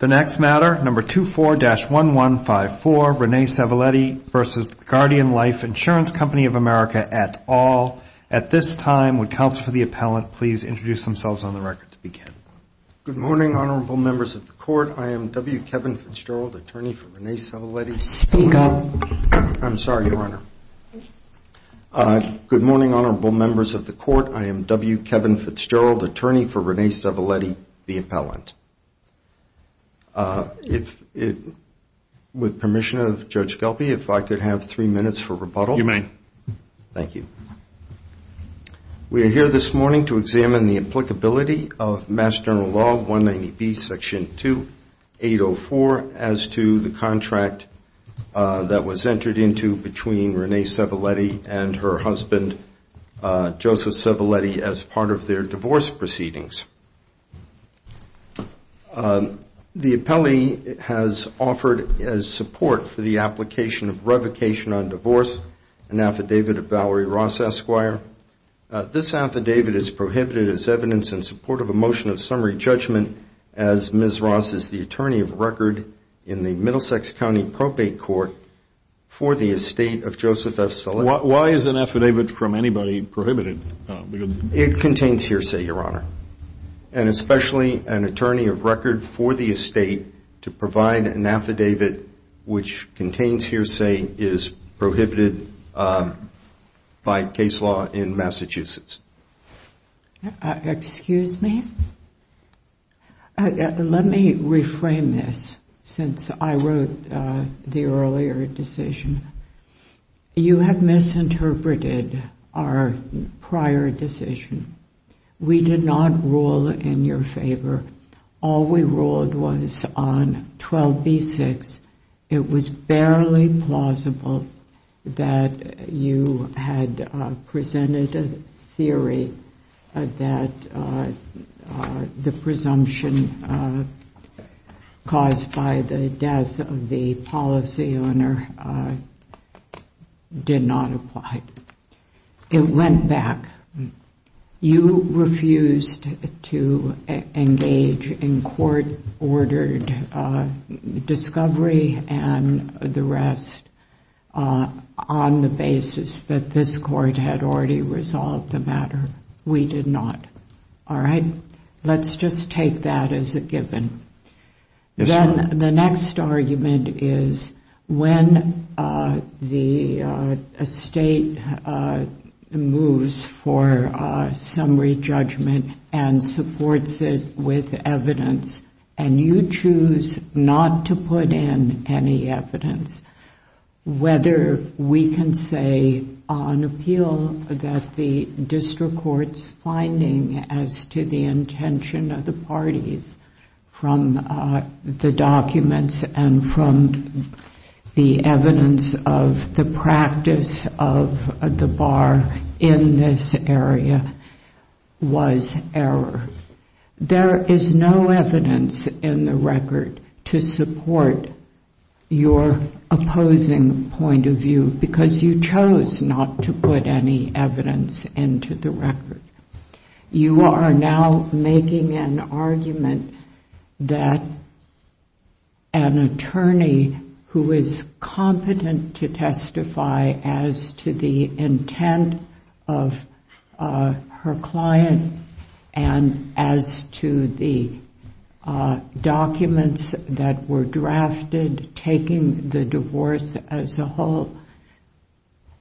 The next matter, number 24-1154, Rene Sevelitte v. The Guardian Life Insurance Company of America et al. At this time, would counsel for the appellant please introduce themselves on the record to begin? Good morning, honorable members of the court. I am W. Kevin Fitzgerald, attorney for Rene Sevelitte. Speak up. I'm sorry, Your Honor. Good morning, honorable members of the court. I am W. Kevin Fitzgerald, attorney for Rene Sevelitte, the appellant. With permission of Judge Gelpi, if I could have three minutes for rebuttal? You may. Thank you. We are here this morning to examine the applicability of Mass General Law 190B Section 2804 as to the contract that was entered into between Rene Sevelitte and her husband, Joseph Sevelitte, as part of their divorce proceedings. The appellee has offered as support for the application of revocation on divorce, an affidavit of Valerie Ross, Esquire. This affidavit is prohibited as evidence in support of a motion of summary judgment as Ms. Ross is the attorney of record in the Middlesex County Propate Court for the estate of Joseph F. Sevelitte. Why is an affidavit from anybody prohibited? It contains hearsay, Your Honor, and especially an attorney of record for the estate to provide an affidavit which contains hearsay is prohibited by case law in Massachusetts. Excuse me? Let me reframe this, since I wrote the earlier decision. You have misinterpreted our prior decision. We did not rule in your favor. All we ruled was on 12B6. It was barely plausible that you had presented a theory that the presumption caused by the death of the policy owner did not apply. It went back. You refused to engage in court-ordered discovery and the rest on the basis that this court had already resolved the matter. We did not. Let's just take that as a given. The next argument is when the estate moves for summary judgment and supports it with and you choose not to put in any evidence, whether we can say on appeal that the district court's finding as to the intention of the parties from the documents and from the evidence of the practice of the bar in this area was error. There is no evidence in the record to support your opposing point of view because you chose not to put any evidence into the You are now making an argument that an attorney who is competent to testify as to the intent of her client and as to the documents that were drafted, taking the divorce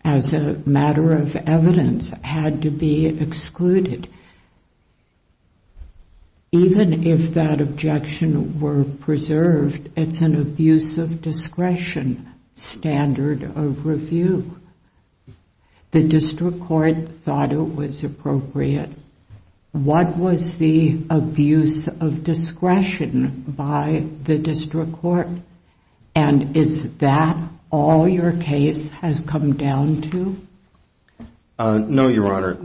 as a matter of evidence had to be excluded. Even if that objection were preserved, it's an abuse of discretion standard of review. The district court thought it was appropriate. What was the abuse of discretion by the district court and is that all your case has come down to? No, Your Honor.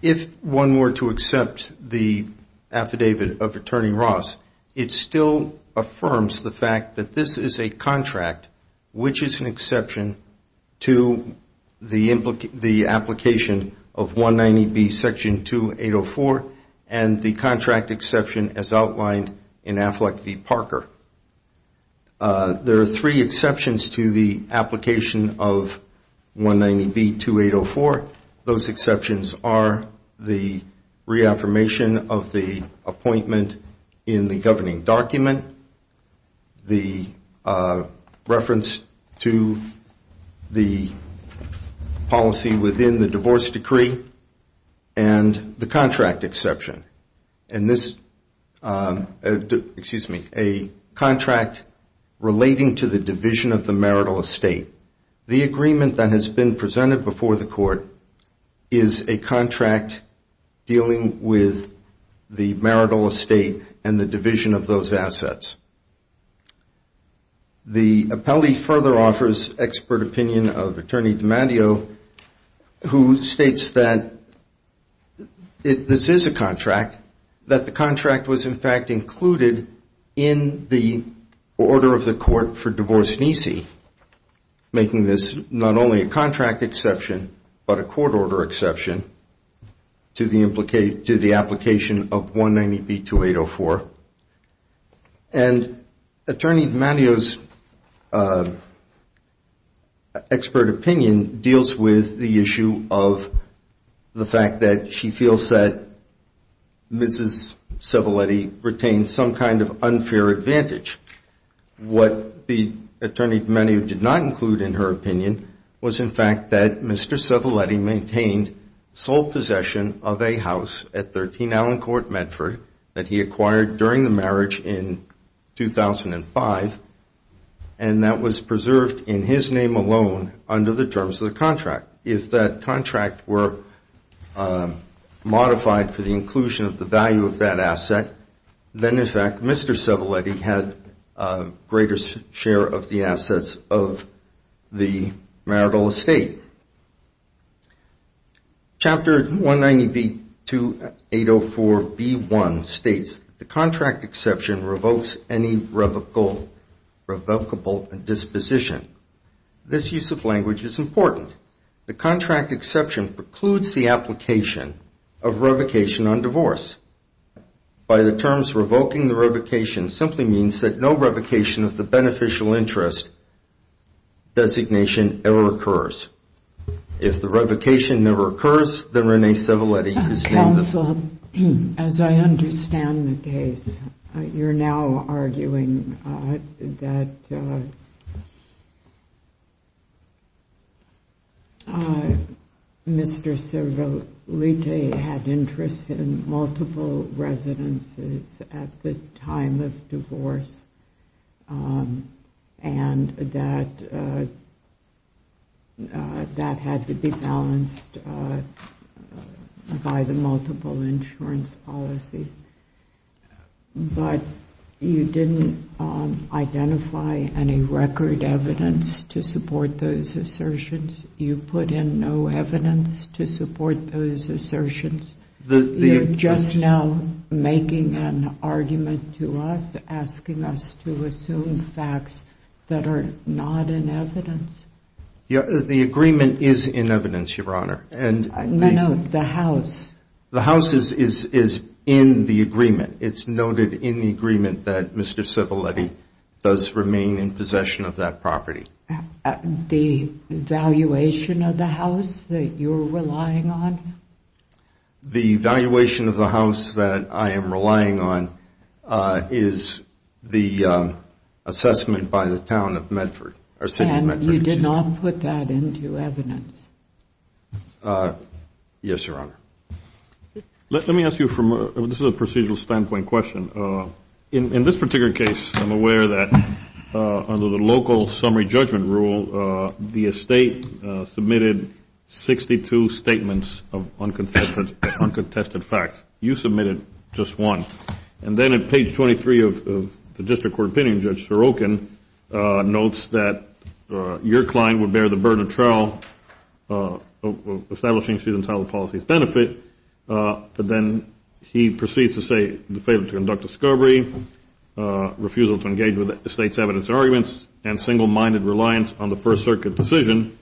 If one were to accept the affidavit of Attorney Ross, it still affirms the fact that this is a contract which is an exception to the application of 190B Section 2804 and the contract exception as outlined in Affleck v. Parker. There are three exceptions to the application of 190B 2804. Those exceptions are the reaffirmation of the appointment in the governing document, the reference to the policy within the divorce decree, and the contract exception. A contract relating to the division of the marital estate. The agreement that has been presented before the court is a contract dealing with the marital estate and the division of those assets. The appellee further offers expert opinion of Attorney Ross that this is a contract, that the contract was in fact included in the order of the court for divorce nece, making this not only a contract exception, but a court order exception to the application of 190B 2804. Attorney D'Amato's expert opinion deals with the issue of the fact that she feels that Mrs. Civilletti retained some kind of unfair advantage. What the attorney did not include in her opinion was in fact that Mr. Civilletti maintained sole possession of a house at 13 Allen Court, Medford, that he acquired during the marriage in 2005 and that was preserved in his name alone under the terms of the contract. If that contract were modified for the inclusion of the value of that asset, then in fact Mr. Civilletti had a greater share of the assets of the marital estate. Chapter 190B 2804B1 states the contract exception revokes any revocable disposition. This use of language is important. The contract exception precludes the application of revocation on divorce. By the terms revoking the revocation simply means that no revocation of the beneficial interest designation ever occurs. If the revocation never occurs, then we're now arguing that Mr. Civilletti had interest in multiple residences at the time of divorce and that had to be balanced by the multiple insurance policies. But you didn't identify any record evidence to support those assertions. You put in no evidence to support those assertions. You're just now making an argument to us, asking us to assume facts that are not in evidence. The agreement is in evidence, Your Honor. No, no, the house. The house is in the agreement. It's noted in the agreement that Mr. Civilletti does remain in possession of that property. The valuation of the house that you're relying on? The valuation of the house that I am relying on is the assessment by the town of Medford. And you did not put that into evidence? Yes, Your Honor. Let me ask you from a procedural standpoint question. In this particular case, I'm aware that under the local summary judgment rule, the estate submitted 62 statements of uncontested facts. You submitted just one. And then at page 23 of the district court opinion, Judge Skobri, refusal to engage with the state's evidence arguments and single-minded reliance on the First Circuit decision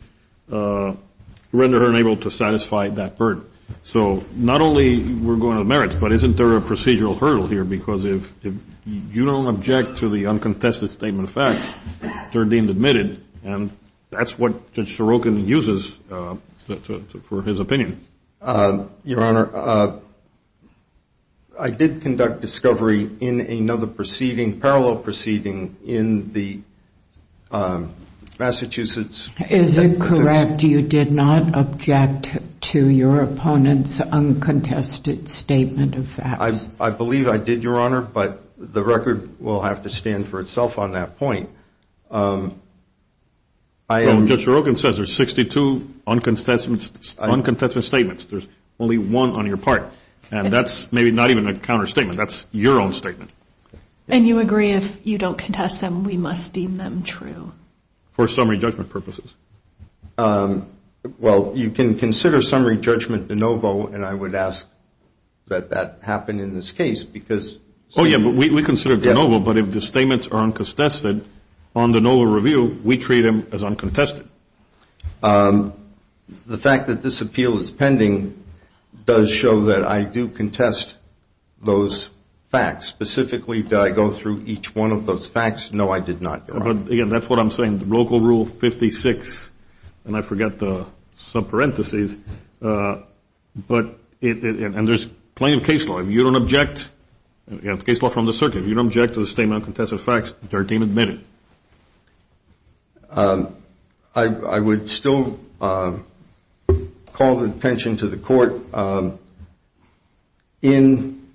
render her unable to satisfy that burden. So not only were going to merits, but isn't there a procedural hurdle here? Because if you don't object to the uncontested statement of facts, they're deemed admitted. And that's what Judge Sorokin uses for his opinion. Your Honor, I did conduct discovery in another proceeding, parallel proceeding in the Massachusetts. Is it correct you did not object to your opponent's uncontested statement of facts? I believe I did, Your Honor, but the record will have to stand for itself on that point. Judge Sorokin says there's 62 uncontested statements. There's only one on your part. And that's maybe not even a counter-statement. That's your own statement. And you agree if you don't contest them, we must deem them true? For summary judgment purposes. Well, you can consider summary judgment de novo, and I would ask that that happen in this case. Oh, yeah, but we treat them as uncontested. The fact that this appeal is pending does show that I do contest those facts. Specifically, did I go through each one of those facts? No, I did not, Your Honor. Again, that's what I'm saying. Local Rule 56, and I forgot the sub-parentheses. But there's plenty of case law. If you don't object, you have case law from the circuit. If you don't object to the statement of facts, you don't contest those facts, and our team admitted it. I would still call the attention to the Court. In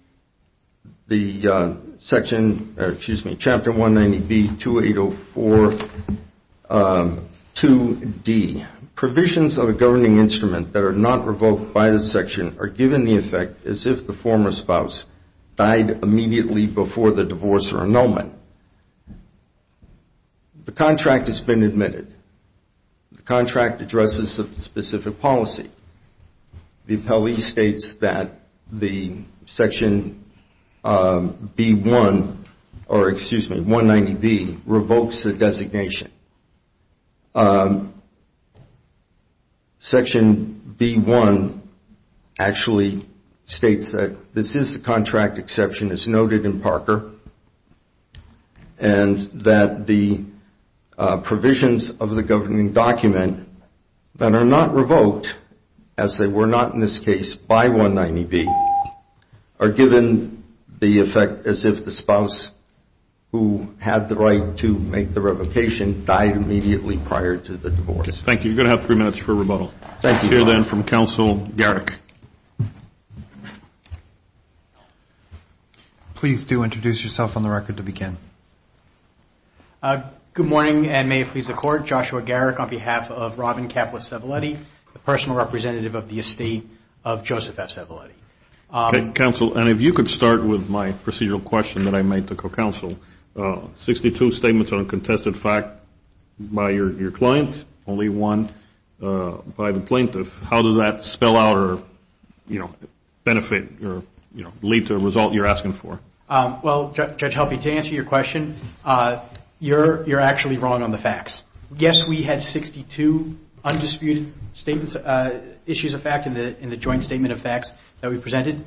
the section, or excuse me, Chapter 190B-2804-2D, provisions of a governing instrument that are not revoked by the section are given the effect as if the former spouse died immediately before the divorce or annulment. The contract has been admitted. The contract addresses the specific policy. The appellee states that the Section B-1, or excuse me, 190B, revokes the designation. Section B-1 actually states that this is the contract that was revoked. The contract exception is noted in Parker, and that the provisions of the governing document that are not revoked, as they were not in this case by 190B, are given the effect as if the spouse who had the right to make the revocation died immediately prior to the divorce. Thank you. You're going to have three minutes for rebuttal. Thank you. Please do introduce yourself on the record to begin. Good morning, and may it please the Court. Joshua Garrick on behalf of Robin Kaplis Cevillete, the personal representative of the estate of Joseph F. Cevillete. Counsel, and if you could start with my procedural question that I made to co-counsel. Sixty-two statements on a contested fact by your client, only one by the plaintiff. How does that spell out or, you know, benefit or, you know, lead to a revocation? Well, Judge Helpe, to answer your question, you're actually wrong on the facts. Yes, we had 62 undisputed statements, issues of fact in the joint statement of facts that we presented.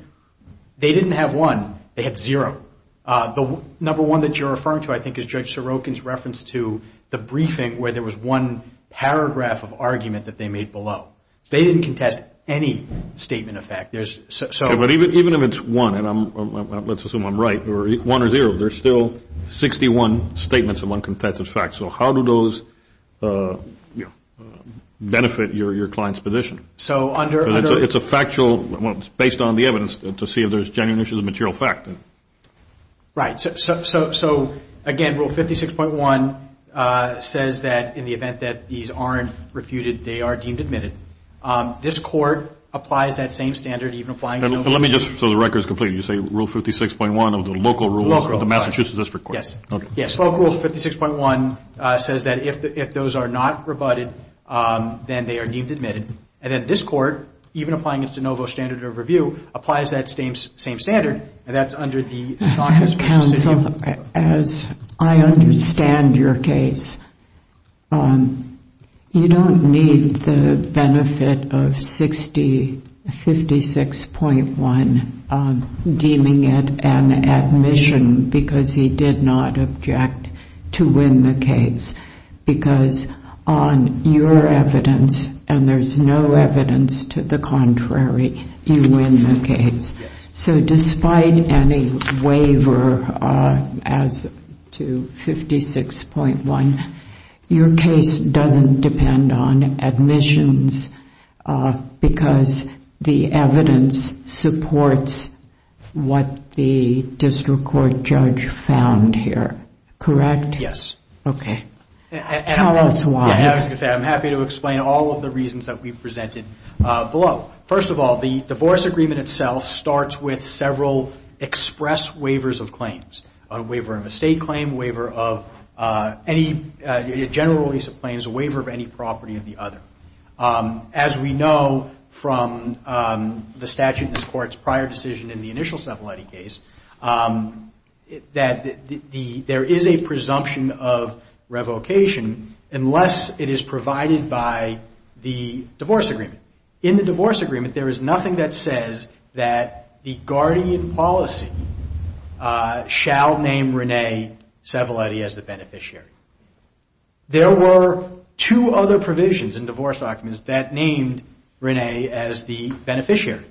They didn't have one. They had zero. The number one that you're referring to, I think, is Judge Sorokin's reference to the briefing where there was one paragraph of argument that they made below. They didn't contest any statement of fact. But even if it's one, and let's assume I'm right, or one or zero, there's still 61 statements of uncontested facts. So how do those benefit your client's position? It's a factual, well, it's based on the evidence to see if there's genuine issues of material fact. Right. So, again, Rule 56.1 says that in the event that these aren't refuted, they are deemed admitted. This Court applies that same standard, even applying it. Let me just, so the record is complete, you say Rule 56.1 of the local rules of the Massachusetts District Court. Yes. Yes. Local Rule 56.1 says that if those are not rebutted, then they are deemed admitted. And then this Court, even applying its de novo standard of review, applies that same standard, and that's under the SACWIS Procedure. Counsel, as I understand your case, you don't need the benefit of 60, 56.1, deeming it an admission because he did not object to win the case. Because on your evidence, and there's no evidence to the contrary, you win the case. Yes. So despite any waiver as to 56.1, your case doesn't depend on admissions because the evidence supports what the District Court judge found here, correct? Yes. Okay. Tell us why. As I said, I'm happy to explain all of the reasons that we've presented below. First of all, the divorce agreement itself starts with several express waivers of claims. A waiver of a state claim, a waiver of any, a general release of claims, a waiver of any property of the other. As we know from the statute in this Court's prior decision in the initial Cevalletti case, that there is a presumption of revocation unless it's provided by the divorce agreement. In the divorce agreement, there is nothing that says that the guardian policy shall name Renee Cevalletti as the beneficiary. There were two other provisions in divorce documents that named Renee as the beneficiary.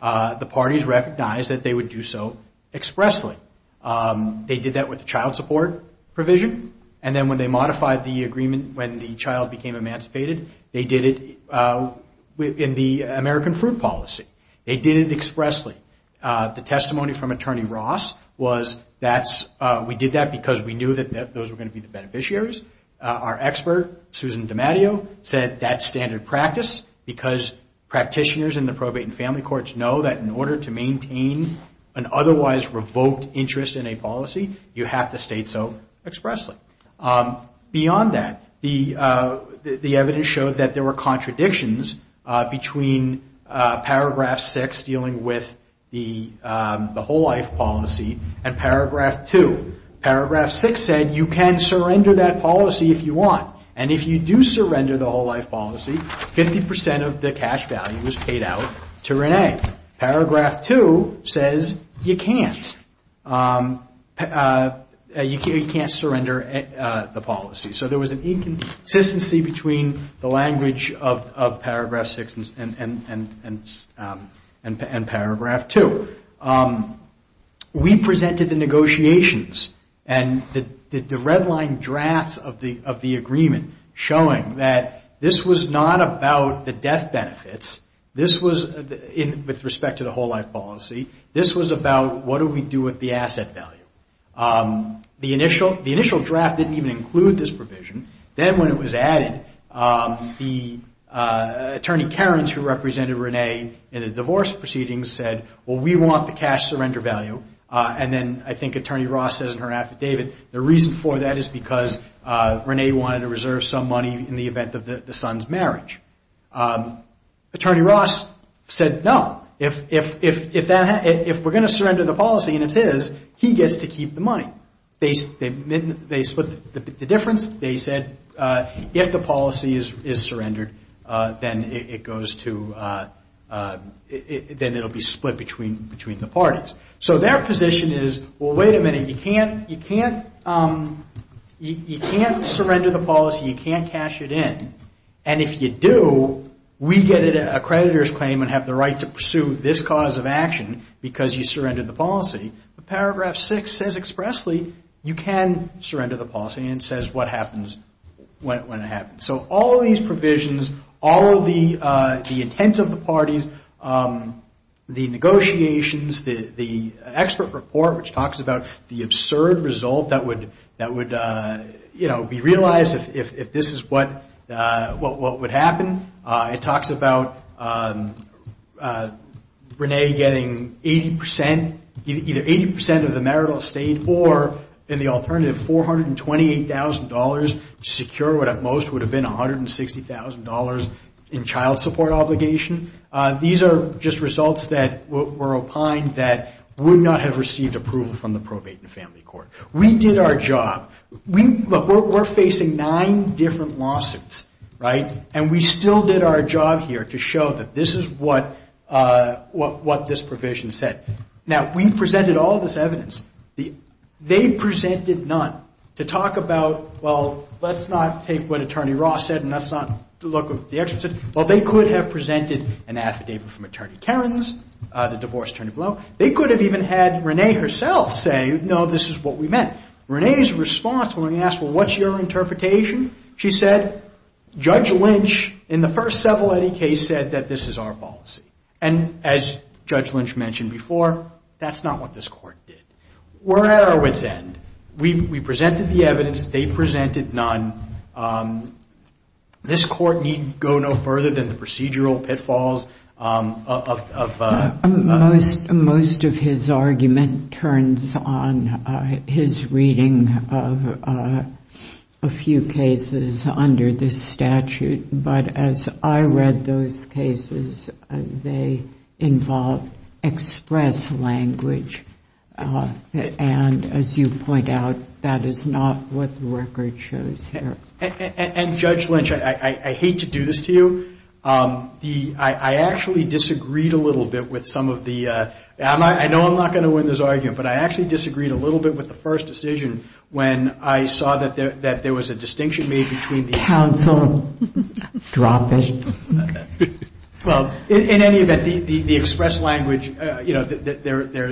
The parties recognized that they would do so expressly. They did that with the child support provision, and then when they modified the agreement, when the child became emancipated, they did it in the American fruit policy. They did it expressly. The testimony from Attorney Ross was that we did that because we knew that those were going to be the beneficiaries. Our expert, Susan DiMatteo, said that's standard practice because practitioners in the probate and family courts know that in order to maintain an otherwise revoked interest in a policy, you have to state so expressly. Beyond that, the evidence showed that there were contradictions between Paragraph 6, dealing with the whole life policy, and Paragraph 2. Paragraph 6 said you can surrender that policy if you want, and if you do surrender the whole life policy, 50% of the cash value is paid out to Renee. Paragraph 2 says you can't. Paragraph 3 said you can't, and Paragraph 4 said you can't. You can't surrender the policy. So there was an inconsistency between the language of Paragraph 6 and Paragraph 2. We presented the negotiations, and the red line drafts of the agreement showing that this was not about the death benefits. This was, with respect to the whole life policy, this was about what do we do with the asset value. The initial draft didn't even include this provision. Then when it was added, the Attorney Karens, who represented Renee in the divorce proceedings, said, well, we want the cash surrender value, and then I think Attorney Ross says in her affidavit, the reason for that is because Renee wanted to reserve some money in the event of the son's marriage. Attorney Ross said, no, if we're going to surrender the policy and it's his, he gets to keep the money. They split the difference. They said if the policy is surrendered, then it will be split between the parties. So their position is, well, wait a minute, you can't surrender the policy, you can't cash it in, and if you do, we get an accreditor's claim and have the right to pursue this cause of action because you surrendered the policy. Paragraph 6 says expressly, you can surrender the policy, and it says what happens when it happens. So all of these provisions, all of the intent of the parties, the negotiations, the expert report which talks about the absurd result that would be realized if this is what would happen. It talks about Renee getting 80 percent, either 80 percent of the marital estate or in the alternative, $428,000 to secure what at most would have been $160,000 in child support obligation. These are just results that were opined that would not have received approval from the probate and family court. We did our job. We're facing nine different lawsuits, right, and we still did our job here to show that this is what this provision said. Now, we presented all of this evidence. They presented none to talk about, well, let's not take what Attorney Ross said and let's not look at what the experts said. Well, they could have presented an affidavit from Attorney Karens, the divorced woman, and had Renee herself say, no, this is what we meant. Renee's response when we asked, well, what's your interpretation, she said, Judge Lynch in the first Seveletti case said that this is our policy. And as Judge Lynch mentioned before, that's not what this court did. We're at our wit's end. We presented the evidence. They presented none. This court need go no further than the procedural pitfalls of... Most of his argument turns on his reading of a few cases under this statute. But as I read those cases, they involve express language. And as you point out, that is not what the record shows here. And Judge Lynch, I hate to do this to you. I actually disagreed a little bit with some of the... I know I'm not going to win this argument, but I actually disagreed a little bit with the first decision when I saw that there was a distinction made between the... Counsel, drop it. Well, in any event, the express language, you know,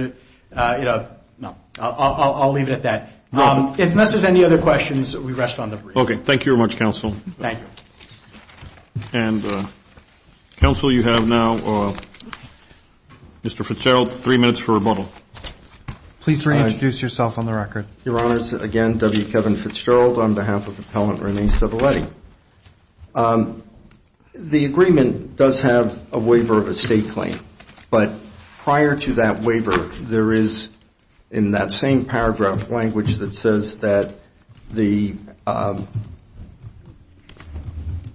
I'll leave it at that. Unless there's any other questions, we rest on the brief. Okay. Thank you very much, Counsel. And, Counsel, you have now, Mr. Fitzgerald, three minutes for rebuttal. Please reintroduce yourself on the record. Your Honors, again, W. Kevin Fitzgerald on behalf of Appellant Renee Civelletti. The agreement does have a waiver of estate claim. But prior to that waiver, there is, in that same paragraph, language that says that the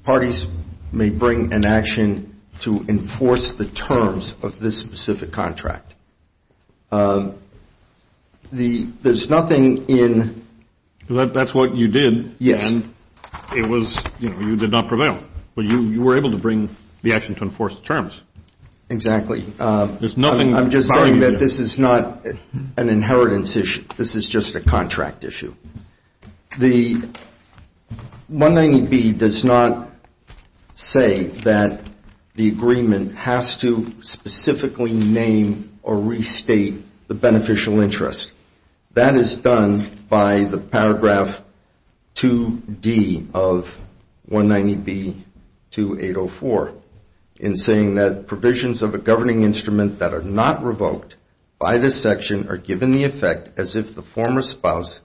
parties may bring an action to enforce the terms of this specific contract. There's nothing in... That's what you did. It was, you know, you did not prevail. But you were able to bring the action to enforce the terms. Exactly. I'm just saying that this is not an inheritance issue. This is just a contract issue. The 190B does not say that the agreement has to specifically name or restate the beneficial interest. That is done by the paragraph 2D of 190B-2804 in saying that provisions of a governing instrument that are not revoked by this section are given the effect as if the former spouse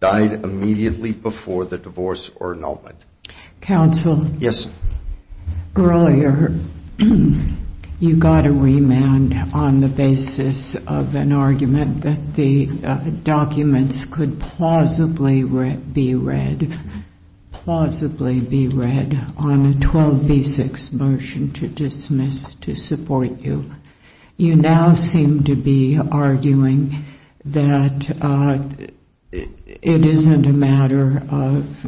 died immediately before the divorce or annulment. Counsel, earlier you got a remand on the basis of an argument that the documents could plausibly be read. Plausibly be read on a 12B-6 motion to dismiss to support you. You now seem to be arguing that it isn't a matter of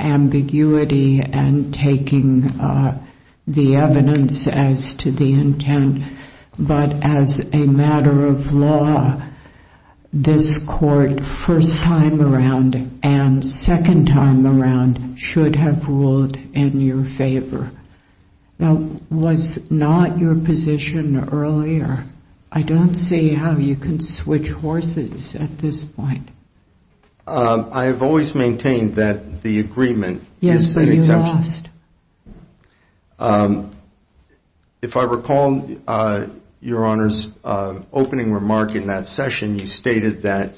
ambiguity and taking the evidence as to the intent, but as a matter of law, this court first time around and second time around should have ruled in your favor. Now, was not your position earlier? I don't see how you can switch horses at this point. I have always maintained that the agreement is an exemption. If I recall your Honor's opening remark in that session, you stated that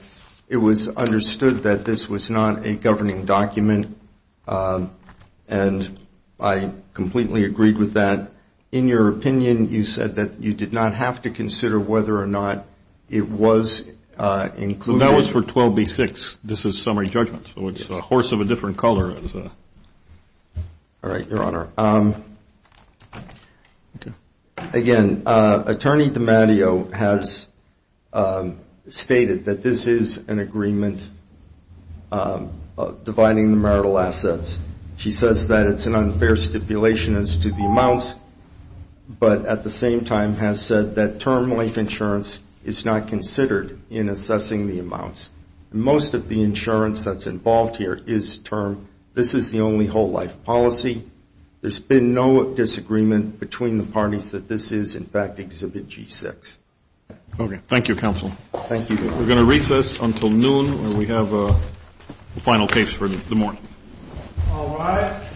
it was understood that this was not a governing document, and I completely agreed with that. In your opinion, you said that you did not have to consider whether or not it was included. Well, that was for 12B-6. This is summary judgment. So it's a horse of a different color. All right, your Honor. Again, Attorney DiMatteo has stated that this is an agreement dividing the marital assets. She says that it's an unfair stipulation as to the amounts, but at the same time has said that term-link insurance is not considered in assessing the amounts. Most of the insurance that's involved here is termed this is the only whole life policy. There's been no disagreement between the parties that this is, in fact, Exhibit G-6. Okay. Thank you, Counsel. Thank you. We're going to recess until noon, and we have the final case for the morning. All rise.